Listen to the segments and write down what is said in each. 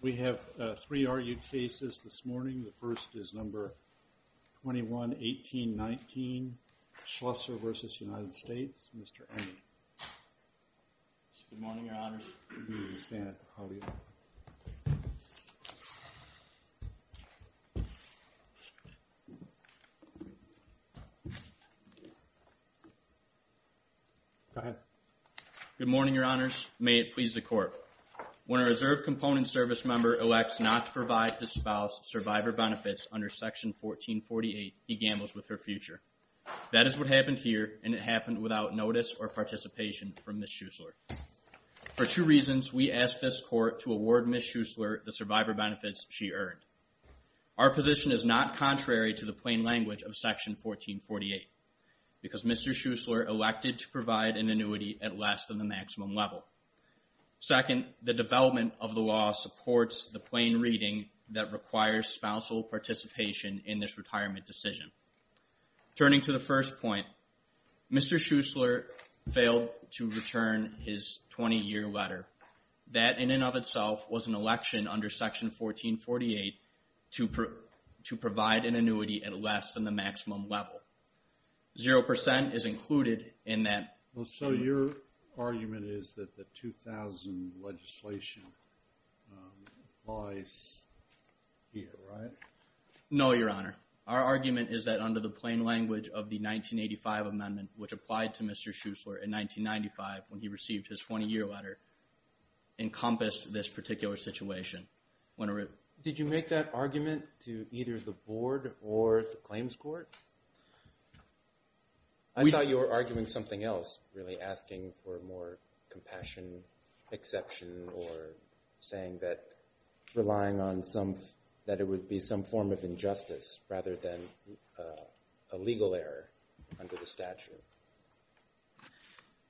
We have three argued cases this morning. The first is number 21-18-19, Schlusser v. United States, Mr. Enge. Good morning, Your Honors. May it please the Court. When a Reserve Component Service member elects not to provide his spouse survivor benefits under Section 1448, he gambles with her future. That is what happened here, and it happened without notice or participation from Ms. Schlusser. For two reasons, we asked this Court to award Ms. Schlusser the survivor benefits she earned. Our position is not contrary to the plain language of Section 1448, because Mr. Schlusser elected to provide an annuity at less than the maximum level. Second, the development of the law supports the plain reading that requires spousal participation in this retirement decision. Turning to the first point, Mr. Schlusser failed to return his 20-year letter. That, in and of itself, was an election under Section 1448 to provide an annuity at less than the maximum level. Zero percent is included in that annuity. So your argument is that the 2000 legislation applies here, right? No, Your Honor. Our argument is that under the plain language of the 1985 amendment, which applied to Mr. Schlusser in 1995 when he received his 20-year letter, encompassed this particular situation. Did you make that argument to either the Board or the Claims Court? I thought you were arguing something else, really asking for more compassion, exception, or saying that relying on some, that it would be some form of injustice rather than a legal error under the statute.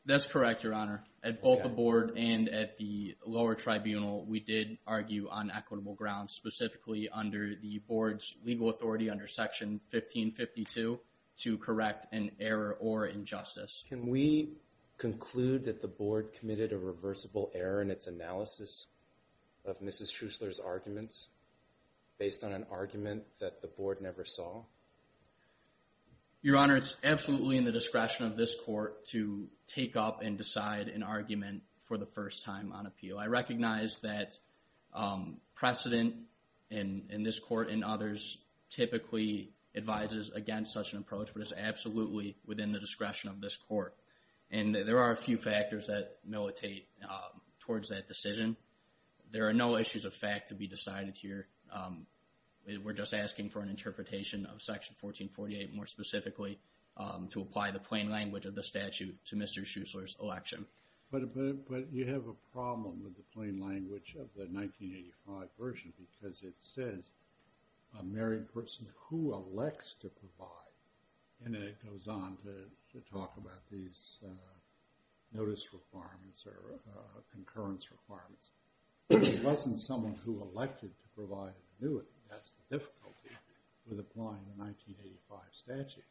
That's correct, Your Honor. At both the Board and at the lower tribunal, we did argue on equitable grounds, specifically under the Board's legal authority under Section 1552 to correct an error or injustice. Can we conclude that the Board committed a reversible error in its analysis of Mrs. Schlusser's arguments based on an argument that the Board never saw? Your Honor, it's absolutely in the discretion of this Court to take up and decide an argument for the first time on appeal. I recognize that precedent in this Court and others typically advises against such an approach, but it's absolutely within the discretion of this Court. And there are a few factors that militate towards that decision. There are no issues of fact to be decided here. We're just asking for an interpretation of Section 1448 more specifically to apply the plain language of the statute to Mr. Schlusser's election. But you have a problem with the plain language of the 1985 version because it says a married person who elects to provide, and then it goes on to talk about these notice requirements or concurrence requirements. If it wasn't someone who elected to provide an annuity, that's the difficulty with applying the 1985 statute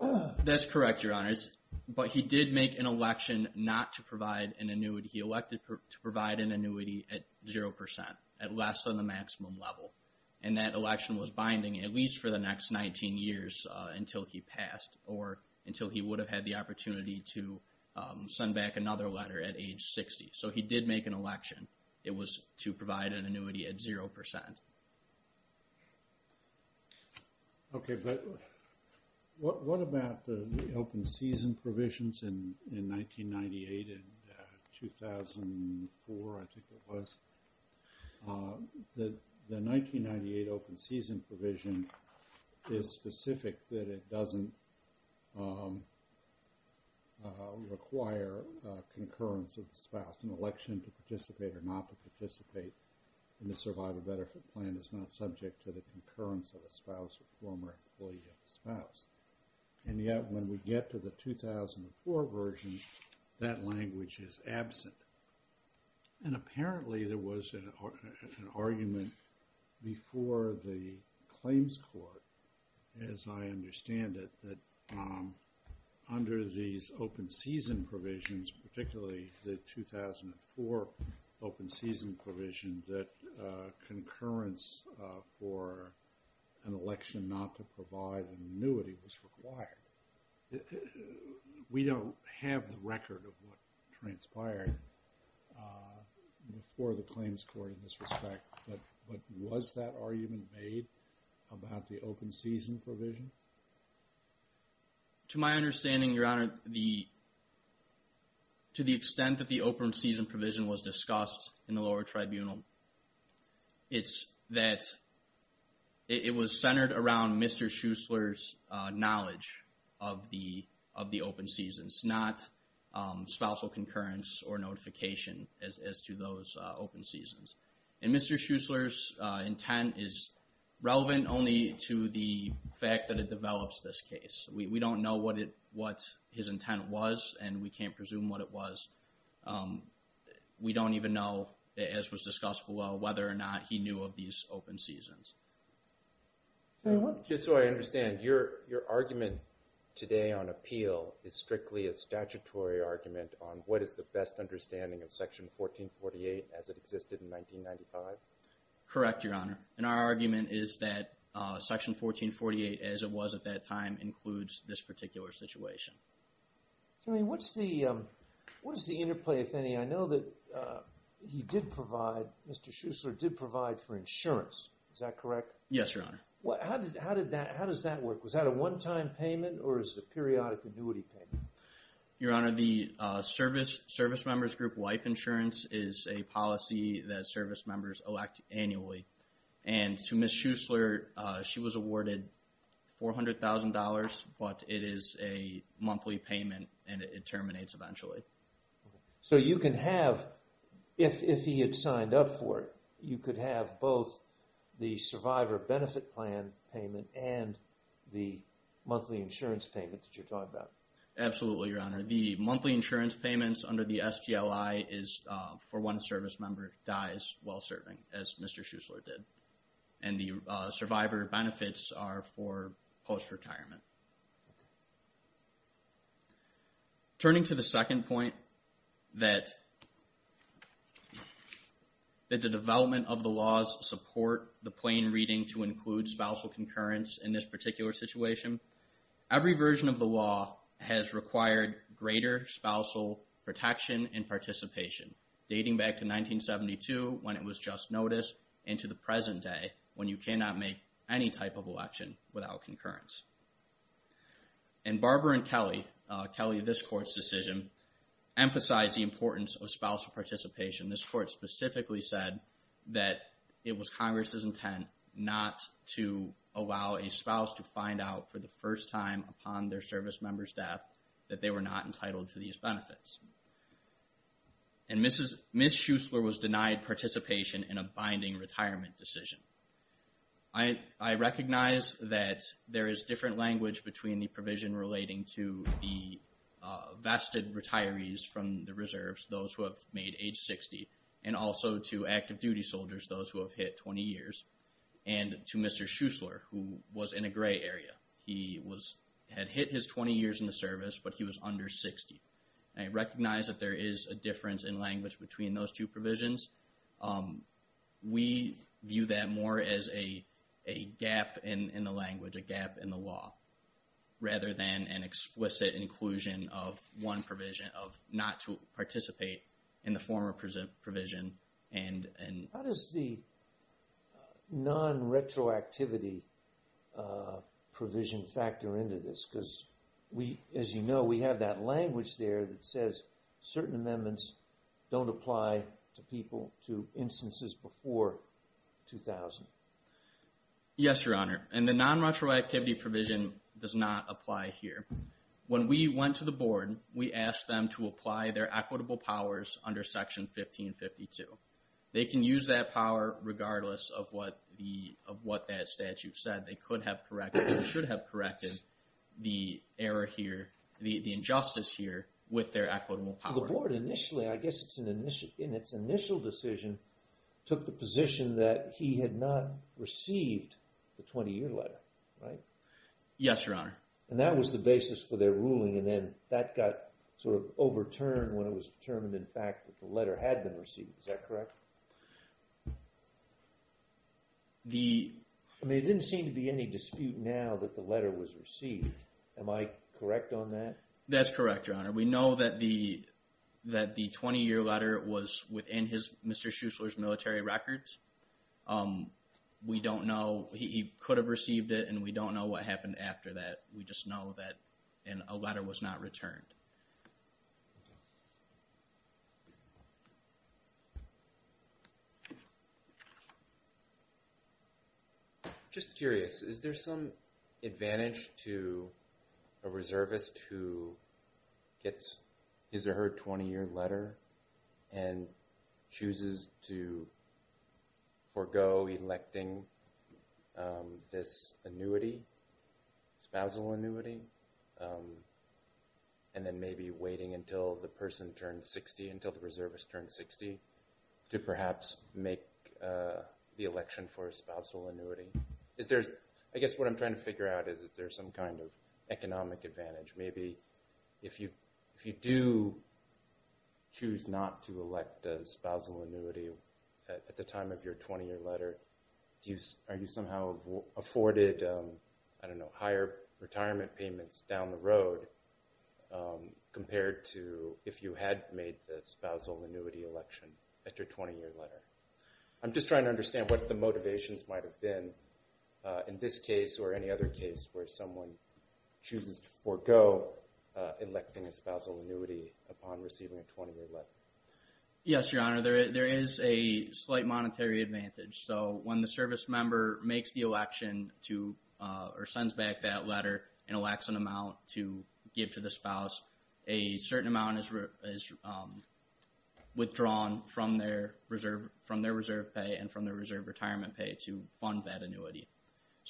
here. That's correct, Your Honors. But he did make an election not to provide an annuity. He elected to provide an annuity at zero percent, at less than the maximum level. And that election was binding at least for the next 19 years until he passed or until he would have had the opportunity to send back another letter at age 60. So he did make an election. It was to provide an annuity at zero percent. Okay, but what about the open season provisions in 1998 and 2004, I think it was? The 1998 open season provision is specific that it doesn't require concurrence of the spouse in election to participate or not to participate in the survival benefit plan is not subject to the concurrence of a spouse or former employee of the spouse. And yet when we get to the 2004 version, that language is absent. And apparently there was an argument before the claims court, as I understand it, that under these open season provisions, particularly the 2004 open season provision, that concurrence for an election not to provide an annuity was required. We don't have the record of what transpired before the claims court in this respect, but was that argument made about the open season provision? To my understanding, Your Honor, to the extent that the open season provision was discussed in the lower tribunal, it's that it was centered around Mr. Schuessler's knowledge of the open seasons, not spousal concurrence or notification as to those open seasons. And Mr. Schuessler's intent is relevant only to the fact that it develops this case. We don't know what his intent was, and we can't presume what it was. We don't even know, as was discussed below, whether or not he knew of these open seasons. Just so I understand, your argument today on appeal is strictly a statutory argument on what is the best understanding of Section 1448 as it existed in 1995? Correct, Your Honor. And our argument is that Section 1448, as it was at that time, includes this particular situation. I mean, what's the interplay, if any? I know that he did provide, Mr. Schuessler did provide for insurance. Is that correct? Yes, Your Honor. How does that work? Was that a one-time payment, or is it a periodic annuity payment? Your Honor, the Service Members Group Wipe Insurance is a policy that service members elect annually. And to Ms. Schuessler, she was awarded $400,000, but it is a monthly payment, and it terminates eventually. So you can have, if he had signed up for it, you could have both the Survivor Benefit Plan payment and the monthly insurance payment that you're talking about. Absolutely, Your Honor. The monthly insurance payments under the STLI is for when a service member dies while serving, as Mr. Schuessler did. And the Survivor Benefits are for post-retirement. Turning to the second point, that the development of the laws support the plain reading to include spousal concurrence in this particular situation, every version of the law has required greater spousal protection and participation, dating back to 1972, when it was just noticed, and to the present day, when you cannot make any type of election without concurrence. And Barbara and Kelly, Kelly, this Court's decision, emphasized the importance of spousal participation. This Court specifically said that it was Congress's intent not to allow a spouse to find out for the first time upon their service member's death that they were not entitled to these benefits. And Ms. Schuessler was denied participation in a binding retirement decision. I recognize that there is different language between the provision relating to the vested retirees from the reserves, those who have made age 60, and also to active duty soldiers, those who have hit 20 years, and to Mr. Schuessler, who was in a gray area. He had hit his 20 years in the service, but he was under 60. I recognize that there is a difference in language between those two provisions. We view that more as a gap in the language, a gap in the law, rather than an explicit inclusion of one provision of not to participate in the former provision and... How does the non-retroactivity provision factor into this? Because we, as you know, we have that language there that says certain amendments don't apply to people, to instances before 2000. Yes, Your Honor. And the non-retroactivity provision does not apply here. When we went to the board, we asked them to apply their equitable powers under Section 1552. They can use that power regardless of what that statute said. They could have corrected, or should have corrected, the error here, the injustice here with their equitable power. The board initially, I guess in its initial decision, took the position that he had not received the 20-year letter, right? Yes, Your Honor. And that was the basis for their ruling, and then that got sort of overturned when it was determined, in fact, that the letter had been received. Is that correct? I mean, it didn't seem to be any dispute now that the letter was received. Am I correct on that? That's correct, Your Honor. We know that the 20-year letter was within Mr. Schuessler's military records. We don't know. He could have received it, and we don't know what happened after that. We just know that a letter was not returned. Thank you. Just curious. Is there some advantage to a reservist who gets his or her 20-year letter and chooses to forego electing this annuity, spousal annuity, and then maybe waiting until the person turns 60, until the reservist turns 60, to perhaps make the election for a spousal annuity? I guess what I'm trying to figure out is, is there some kind of economic advantage? Maybe if you do choose not to elect a spousal annuity at the time of your 20-year letter, are you somehow afforded higher retirement payments down the road compared to if you had made the spousal annuity election at your 20-year letter? I'm just trying to understand what the motivations might have been in this case or any other case where someone chooses to forego electing a spousal annuity upon receiving a 20-year letter. Yes, Your Honor. There is a slight monetary advantage. When the servicemember makes the election or sends back that letter and elects an amount to give to the spouse, a certain amount is withdrawn from their reserve pay and from their reserve retirement pay to fund that annuity.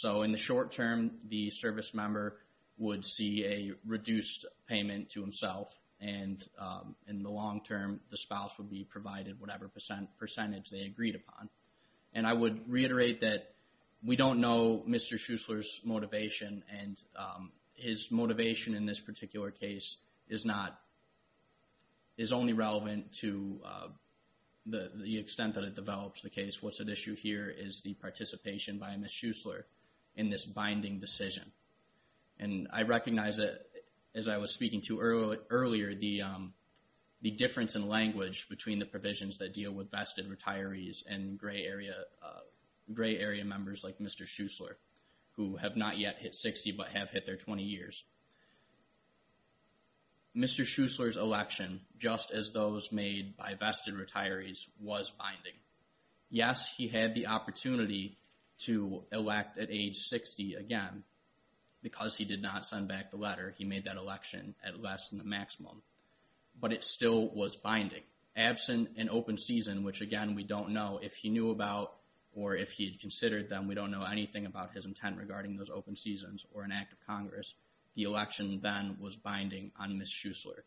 In the short term, the servicemember would see a reduced payment to himself. In the long term, the spouse would be provided whatever percentage they agreed upon. And I would reiterate that we don't know Mr. Schuessler's motivation and his motivation in this particular case is not, is only relevant to the extent that it develops the case. What's at issue here is the participation by Ms. Schuessler in this binding decision. And I recognize that, as I was speaking to earlier, the difference in language between the provisions that deal with vested retirees and gray area members like Mr. Schuessler, who have not yet hit 60 but have hit their 20 years. Mr. Schuessler's election, just as those made by vested retirees, was binding. Yes, he had the opportunity to elect at age 60 again. Because he did not send back the letter, he made that election at less than the maximum. But it still was binding. Absent an open season, which again, we don't know if he knew about, or if he had considered them, we don't know anything about his intent regarding those open seasons or an act of Congress. The election then was binding on Ms. Schuessler.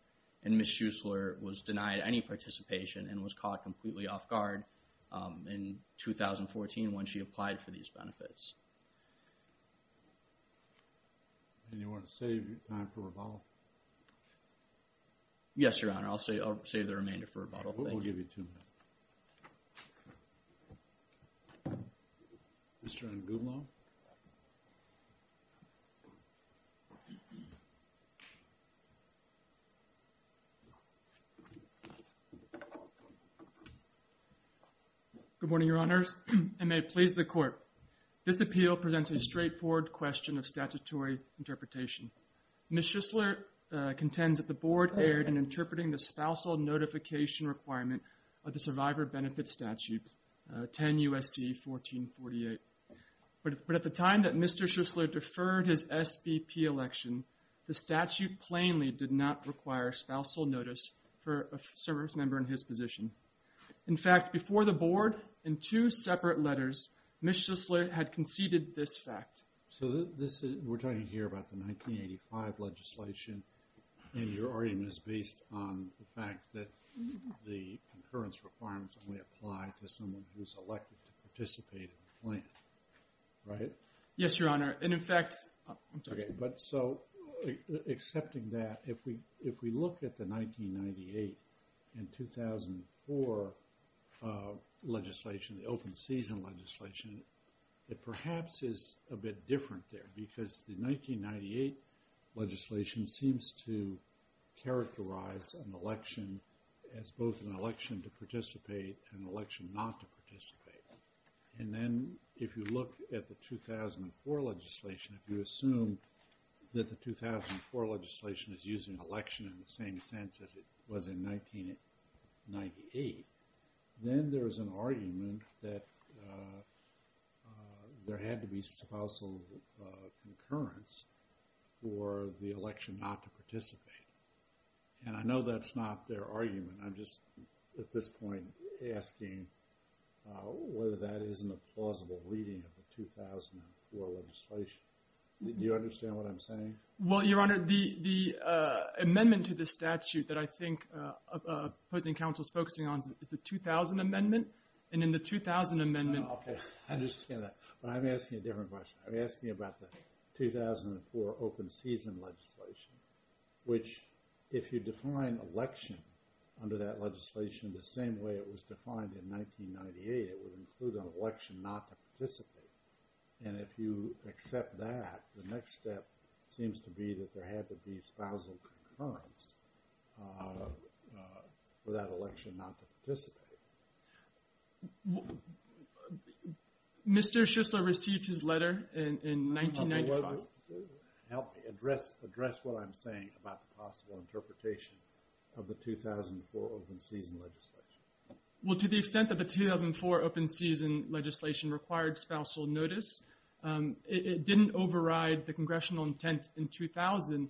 And Ms. Schuessler was denied any participation and was caught completely off guard in 2014 when she applied for these benefits. And you want to save time for Revolve? Yes, Your Honor. I'll save the remainder for Revolve. We'll give you two minutes. Mr. Angudlo. Good morning, Your Honors. And may it please the Court. This appeal presents a straightforward question of statutory interpretation. Ms. Schuessler contends that the Board erred in interpreting the spousal notification requirement of the Survivor Benefit Statute 10 U.S.C. 1448. But at the time that Mr. Schuessler deferred his SBP election, the statute plainly did not require spousal notice for a service member in his position. In fact, before the Board, in two separate letters, Ms. Schuessler had conceded this fact. So this is, we're talking here about the 1985 legislation, and your argument is based on the fact that the concurrence requirements only apply to someone who's elected to participate in the plan, right? Yes, Your Honor. And in fact, I'm sorry. But so, accepting that, if we look at the 1998 and 2004 legislation, the open season legislation, it perhaps is a bit different there. Because the 1998 legislation seems to characterize an election as both an election to participate and an election not to participate. And then, if you look at the 2004 legislation, if you assume that the 2004 legislation is using election in the same sense as it was in 1998, then there is an argument that there had to be spousal concurrence for the election not to participate. And I know that's not their argument. I'm just, at this point, asking whether that isn't a plausible reading of the 2004 legislation. Do you understand what I'm saying? Well, Your Honor, the amendment to the statute that I think opposing counsel is focusing on is the 2000 amendment. And in the 2000 amendment... Okay, I understand that. But I'm asking a different question. I'm asking about the 2004 open season legislation, which, if you define election under that legislation the same way it was defined in 1998, it would include an election not to participate. And if you accept that, the next step seems to be that there had to be spousal concurrence for that election not to participate. Mr. Schussler received his letter in 1995. Help me address what I'm saying about the possible interpretation of the 2004 open season legislation. Well, to the extent that the 2004 open season legislation required spousal notice, it didn't override the congressional intent in 2000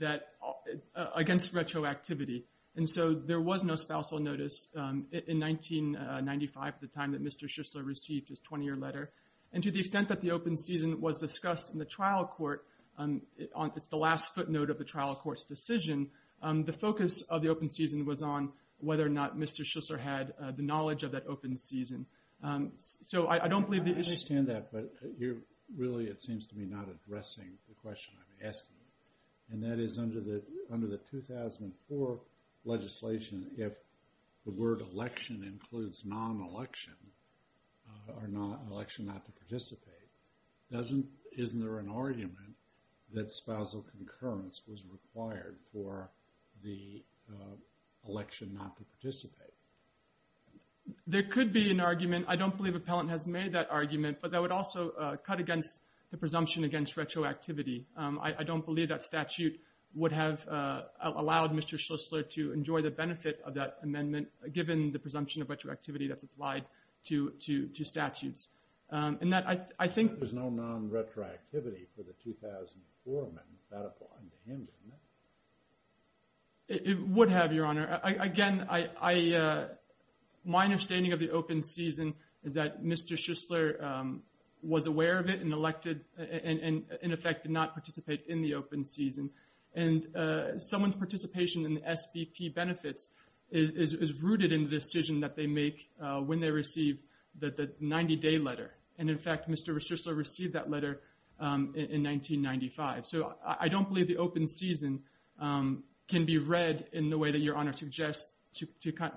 against retroactivity. And so there was no spousal notice in 1995, the time that Mr. Schussler received his 20-year letter. And to the extent that the open season was discussed in the trial court, it's the last footnote of the trial court's decision, the focus of the open season was on whether or not Mr. Schussler had the knowledge of that open season. So I don't believe the issue... I understand that, but you're really, it seems to me, not addressing the question I'm asking. And that is under the 2004 legislation, if the word election includes non-election or election not to participate, isn't there an argument that spousal concurrence was required for the election not to participate? There could be an argument. I don't believe Appellant has made that argument, but that would also cut against the presumption against retroactivity. I don't believe that statute would have allowed Mr. Schussler to enjoy the benefit of that amendment, given the presumption of retroactivity that's applied to statutes. And that, I think... But there's no non-retroactivity for the 2004 amendment, without applying to him, isn't there? It would have, Your Honor. Again, my understanding of the open season is that Mr. Schussler was aware of it and elected, and in effect, did not participate in the open season. And someone's participation in the SBP benefits is rooted in the decision that they make when they receive the 90-day letter. And in fact, Mr. Schussler received that letter in 1995. So I don't believe the open season can be read in the way that Your Honor suggests,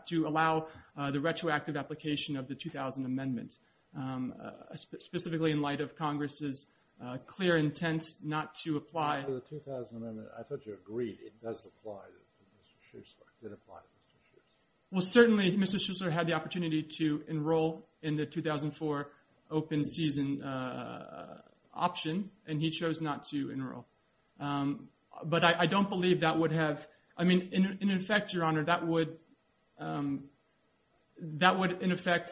to allow the retroactive application of the 2000 amendment. Specifically, in light of Congress's clear intent not to apply... In light of the 2000 amendment, I thought you agreed it does apply to Mr. Schussler, did apply to Mr. Schussler. Well, certainly, Mr. Schussler had the opportunity to enroll in the 2004 open season option, and he chose not to enroll. But I don't believe that would have... I mean, in effect, Your Honor, that would... That would, in effect,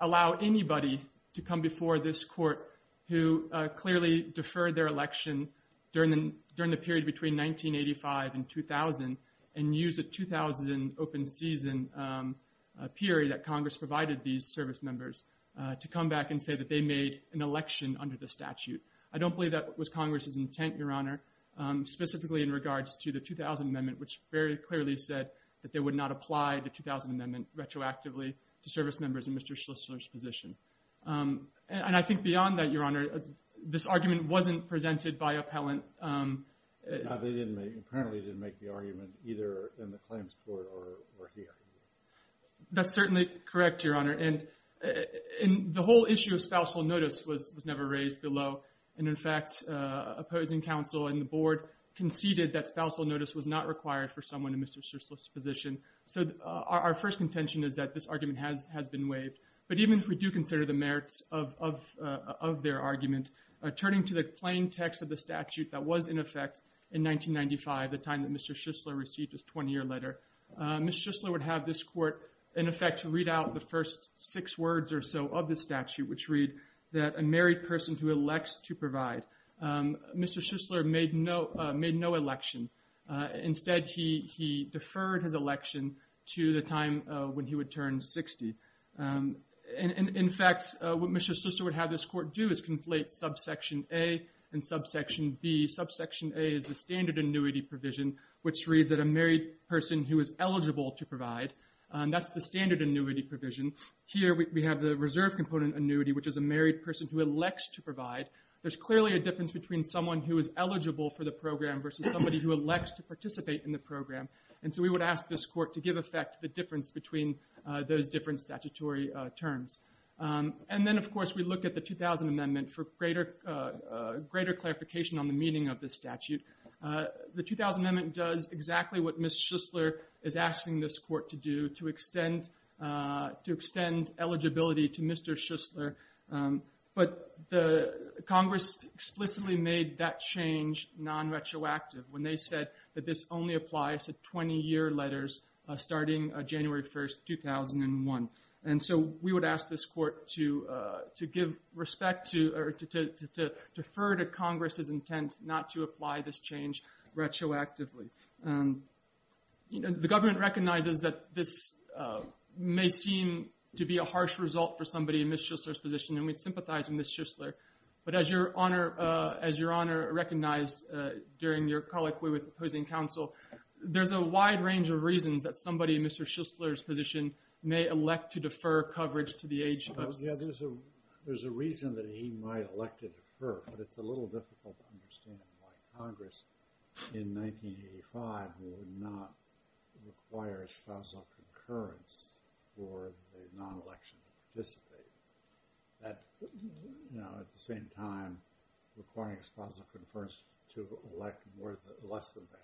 allow anybody to come before this court who clearly deferred their election during the period between 1985 and 2000, and use the 2000 open season period that Congress provided these service members to come back and say that they made an election under the statute. Specifically, in regards to the 2000 amendment, which very clearly said that they would not apply the 2000 amendment retroactively to service members in Mr. Schussler's position. And I think beyond that, Your Honor, this argument wasn't presented by appellant. No, they didn't make... Apparently, they didn't make the argument either in the claims court or here. That's certainly correct, Your Honor. And the whole issue of spousal notice was never raised below. And in fact, opposing counsel and the board conceded that spousal notice was not required for someone in Mr. Schussler's position. So our first contention is that this argument has been waived. But even if we do consider the merits of their argument, turning to the plain text of the statute that was in effect in 1995, the time that Mr. Schussler received his 20-year letter, Mr. Schussler would have this court, in effect, read out the first six words or so of the statute, which read that a married person who elects to provide. Mr. Schussler made no election. Instead, he deferred his election to the time when he would turn 60. And in fact, what Mr. Schussler would have this court do is conflate subsection A and subsection B. Subsection A is the standard annuity provision, which reads that a married person who is eligible to provide, that's the standard annuity provision. Here, we have the reserve component annuity, which is a married person who elects to provide. There's clearly a difference between someone who is eligible for the program versus somebody who elects to participate in the program. And so we would ask this court to give effect to the difference between those different statutory terms. And then, of course, we look at the 2000 Amendment for greater clarification on the meaning of the statute. The 2000 Amendment does exactly what Ms. Schussler is asking this court to do, to extend eligibility to Mr. Schussler. But Congress explicitly made that change non-retroactive when they said that this only applies to 20-year letters starting January 1st, 2001. And so we would ask this court to defer to Congress's intent not to apply this change retroactively. The government recognizes that this may seem to be a harsh result for somebody in Ms. Schussler's position, and we sympathize with Ms. Schussler. But as Your Honor recognized during your colloquy with opposing counsel, there's a wide range of reasons that somebody in Mr. Schussler's position may elect to defer coverage to the age of... Oh, yeah, there's a reason that he might elect to defer, but it's a little difficult to understand why Congress in 1985 would not require a spousal concurrence for the non-election to participate. That, you know, at the same time requiring a spousal concurrence to elect less than the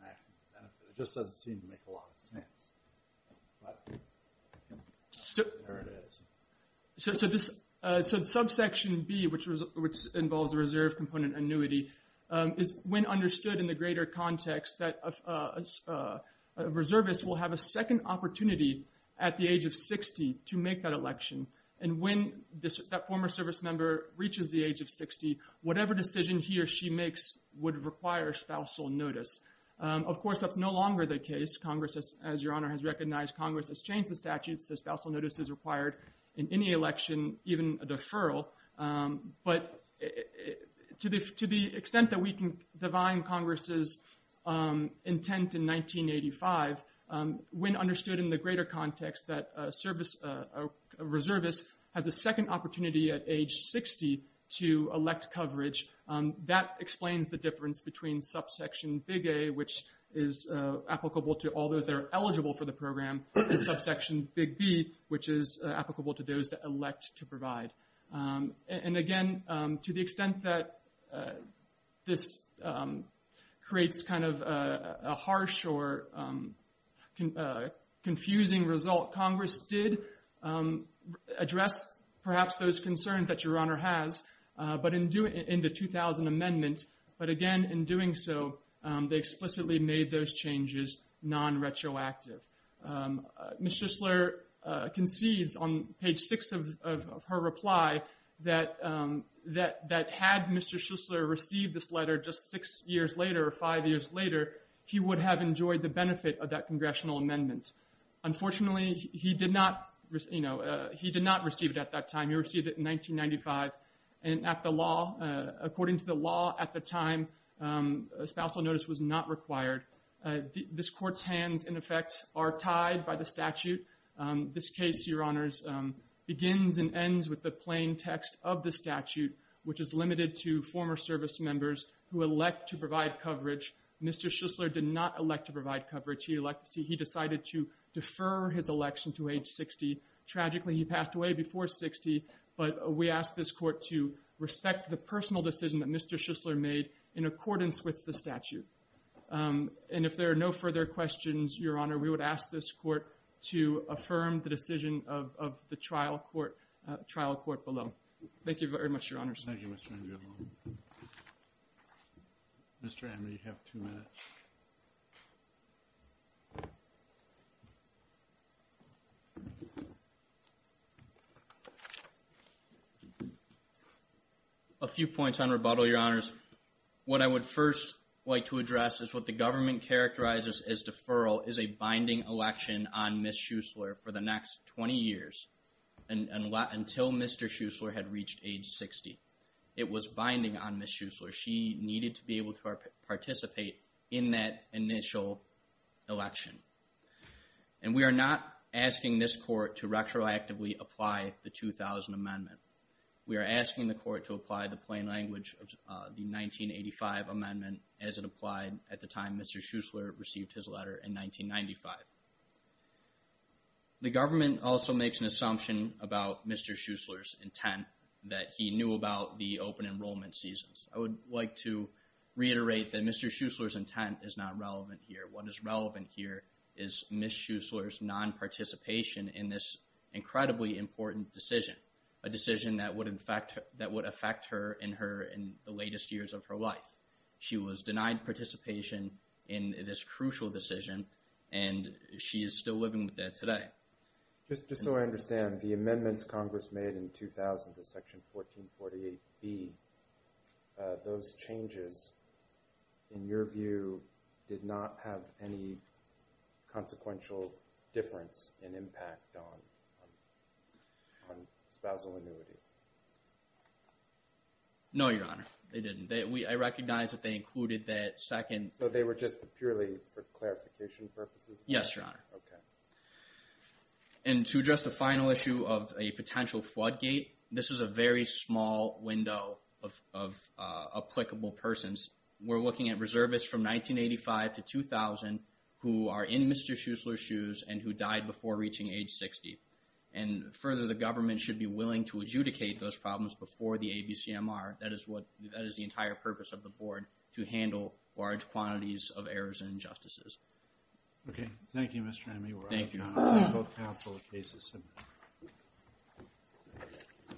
national benefit, it just doesn't seem to make a lot of sense. But there it is. So the subsection B, which involves a reserve component annuity, is when understood in the greater context that a reservist will have a second opportunity at the age of 60 to make that election. And when that former service member reaches the age of 60, whatever decision he or she makes would require spousal notice. Of course, that's no longer the case. Congress, as Your Honor has recognized, Congress has changed the statute, so spousal notice is required in any election, even a deferral. But to the extent that we can divine Congress's intent in 1985, when understood in the greater context that a service...a reservist has a second opportunity at age 60 to elect coverage, that explains the difference between subsection Big A, which is applicable to all those that are eligible for the program, and subsection Big B, which is applicable to those that elect to provide. And again, to the extent that this creates kind of a harsh or confusing result, Congress did address perhaps those concerns that Your Honor has in the 2000 Amendment. But again, in doing so, they explicitly made those changes non-retroactive. Ms. Schussler concedes on page 6 of her reply that had Mr. Schussler received this letter just six years later or five years later, he would have enjoyed the benefit of that Congressional Amendment. Unfortunately, he did not receive it at that time. He received it in 1995. And at the law, according to the law at the time, spousal notice was not required. This Court's hands, in effect, are tied by the statute. This case, Your Honors, begins and ends with the plain text of the statute, which is limited to former service members who elect to provide coverage. Mr. Schussler did not elect to provide coverage. He decided to defer his election to age 60. Tragically, he passed away before 60. But we ask this Court to respect the personal decision that Mr. Schussler made in accordance with the statute. And if there are no further questions, Your Honor, we would ask this Court to affirm the decision of the trial court below. Thank you very much, Your Honors. Thank you, Mr. Angiolini. Mr. Amner, you have two minutes. A few points on rebuttal, Your Honors. What I would first like to address is what the government characterizes as deferral is a binding election on Ms. Schussler for the next 20 years until Mr. Schussler had reached age 60. It was binding on Ms. Schussler. She needed to be able to participate in that initial election. And we are not asking this Court to retroactively apply the 2000 Amendment. We are asking the Court to apply the plain language of the 1985 Amendment as it applied at the time Mr. Schussler received his letter in 1995. The government also makes an assumption about Mr. Schussler's intent that he knew about the open enrollment seasons. I would like to reiterate that Mr. Schussler's intent is not relevant here. What is relevant here is Ms. Schussler's non-participation in this incredibly important decision. A decision that would affect her in the latest years of her life. She was denied participation in this crucial decision and she is still living with that today. Just so I understand, the amendments Congress made in 2000 to Section 1448B, those changes, in your view, did not have any consequential difference and impact on spousal annuities? No, Your Honor. They didn't. I recognize that they included that second... So they were just purely for clarification purposes? Yes, Your Honor. Okay. And to address the final issue of a potential floodgate, this is a very small window of applicable persons. We're looking at reservists from 1985 to 2000 who are in Mr. Schussler's shoes and who died before reaching age 60. And further, the government should be willing to adjudicate those problems before the ABCMR. That is the entire purpose of the Board, to handle large quantities of errors and injustices. Okay. Thank you, Mr. Henry. Thank you.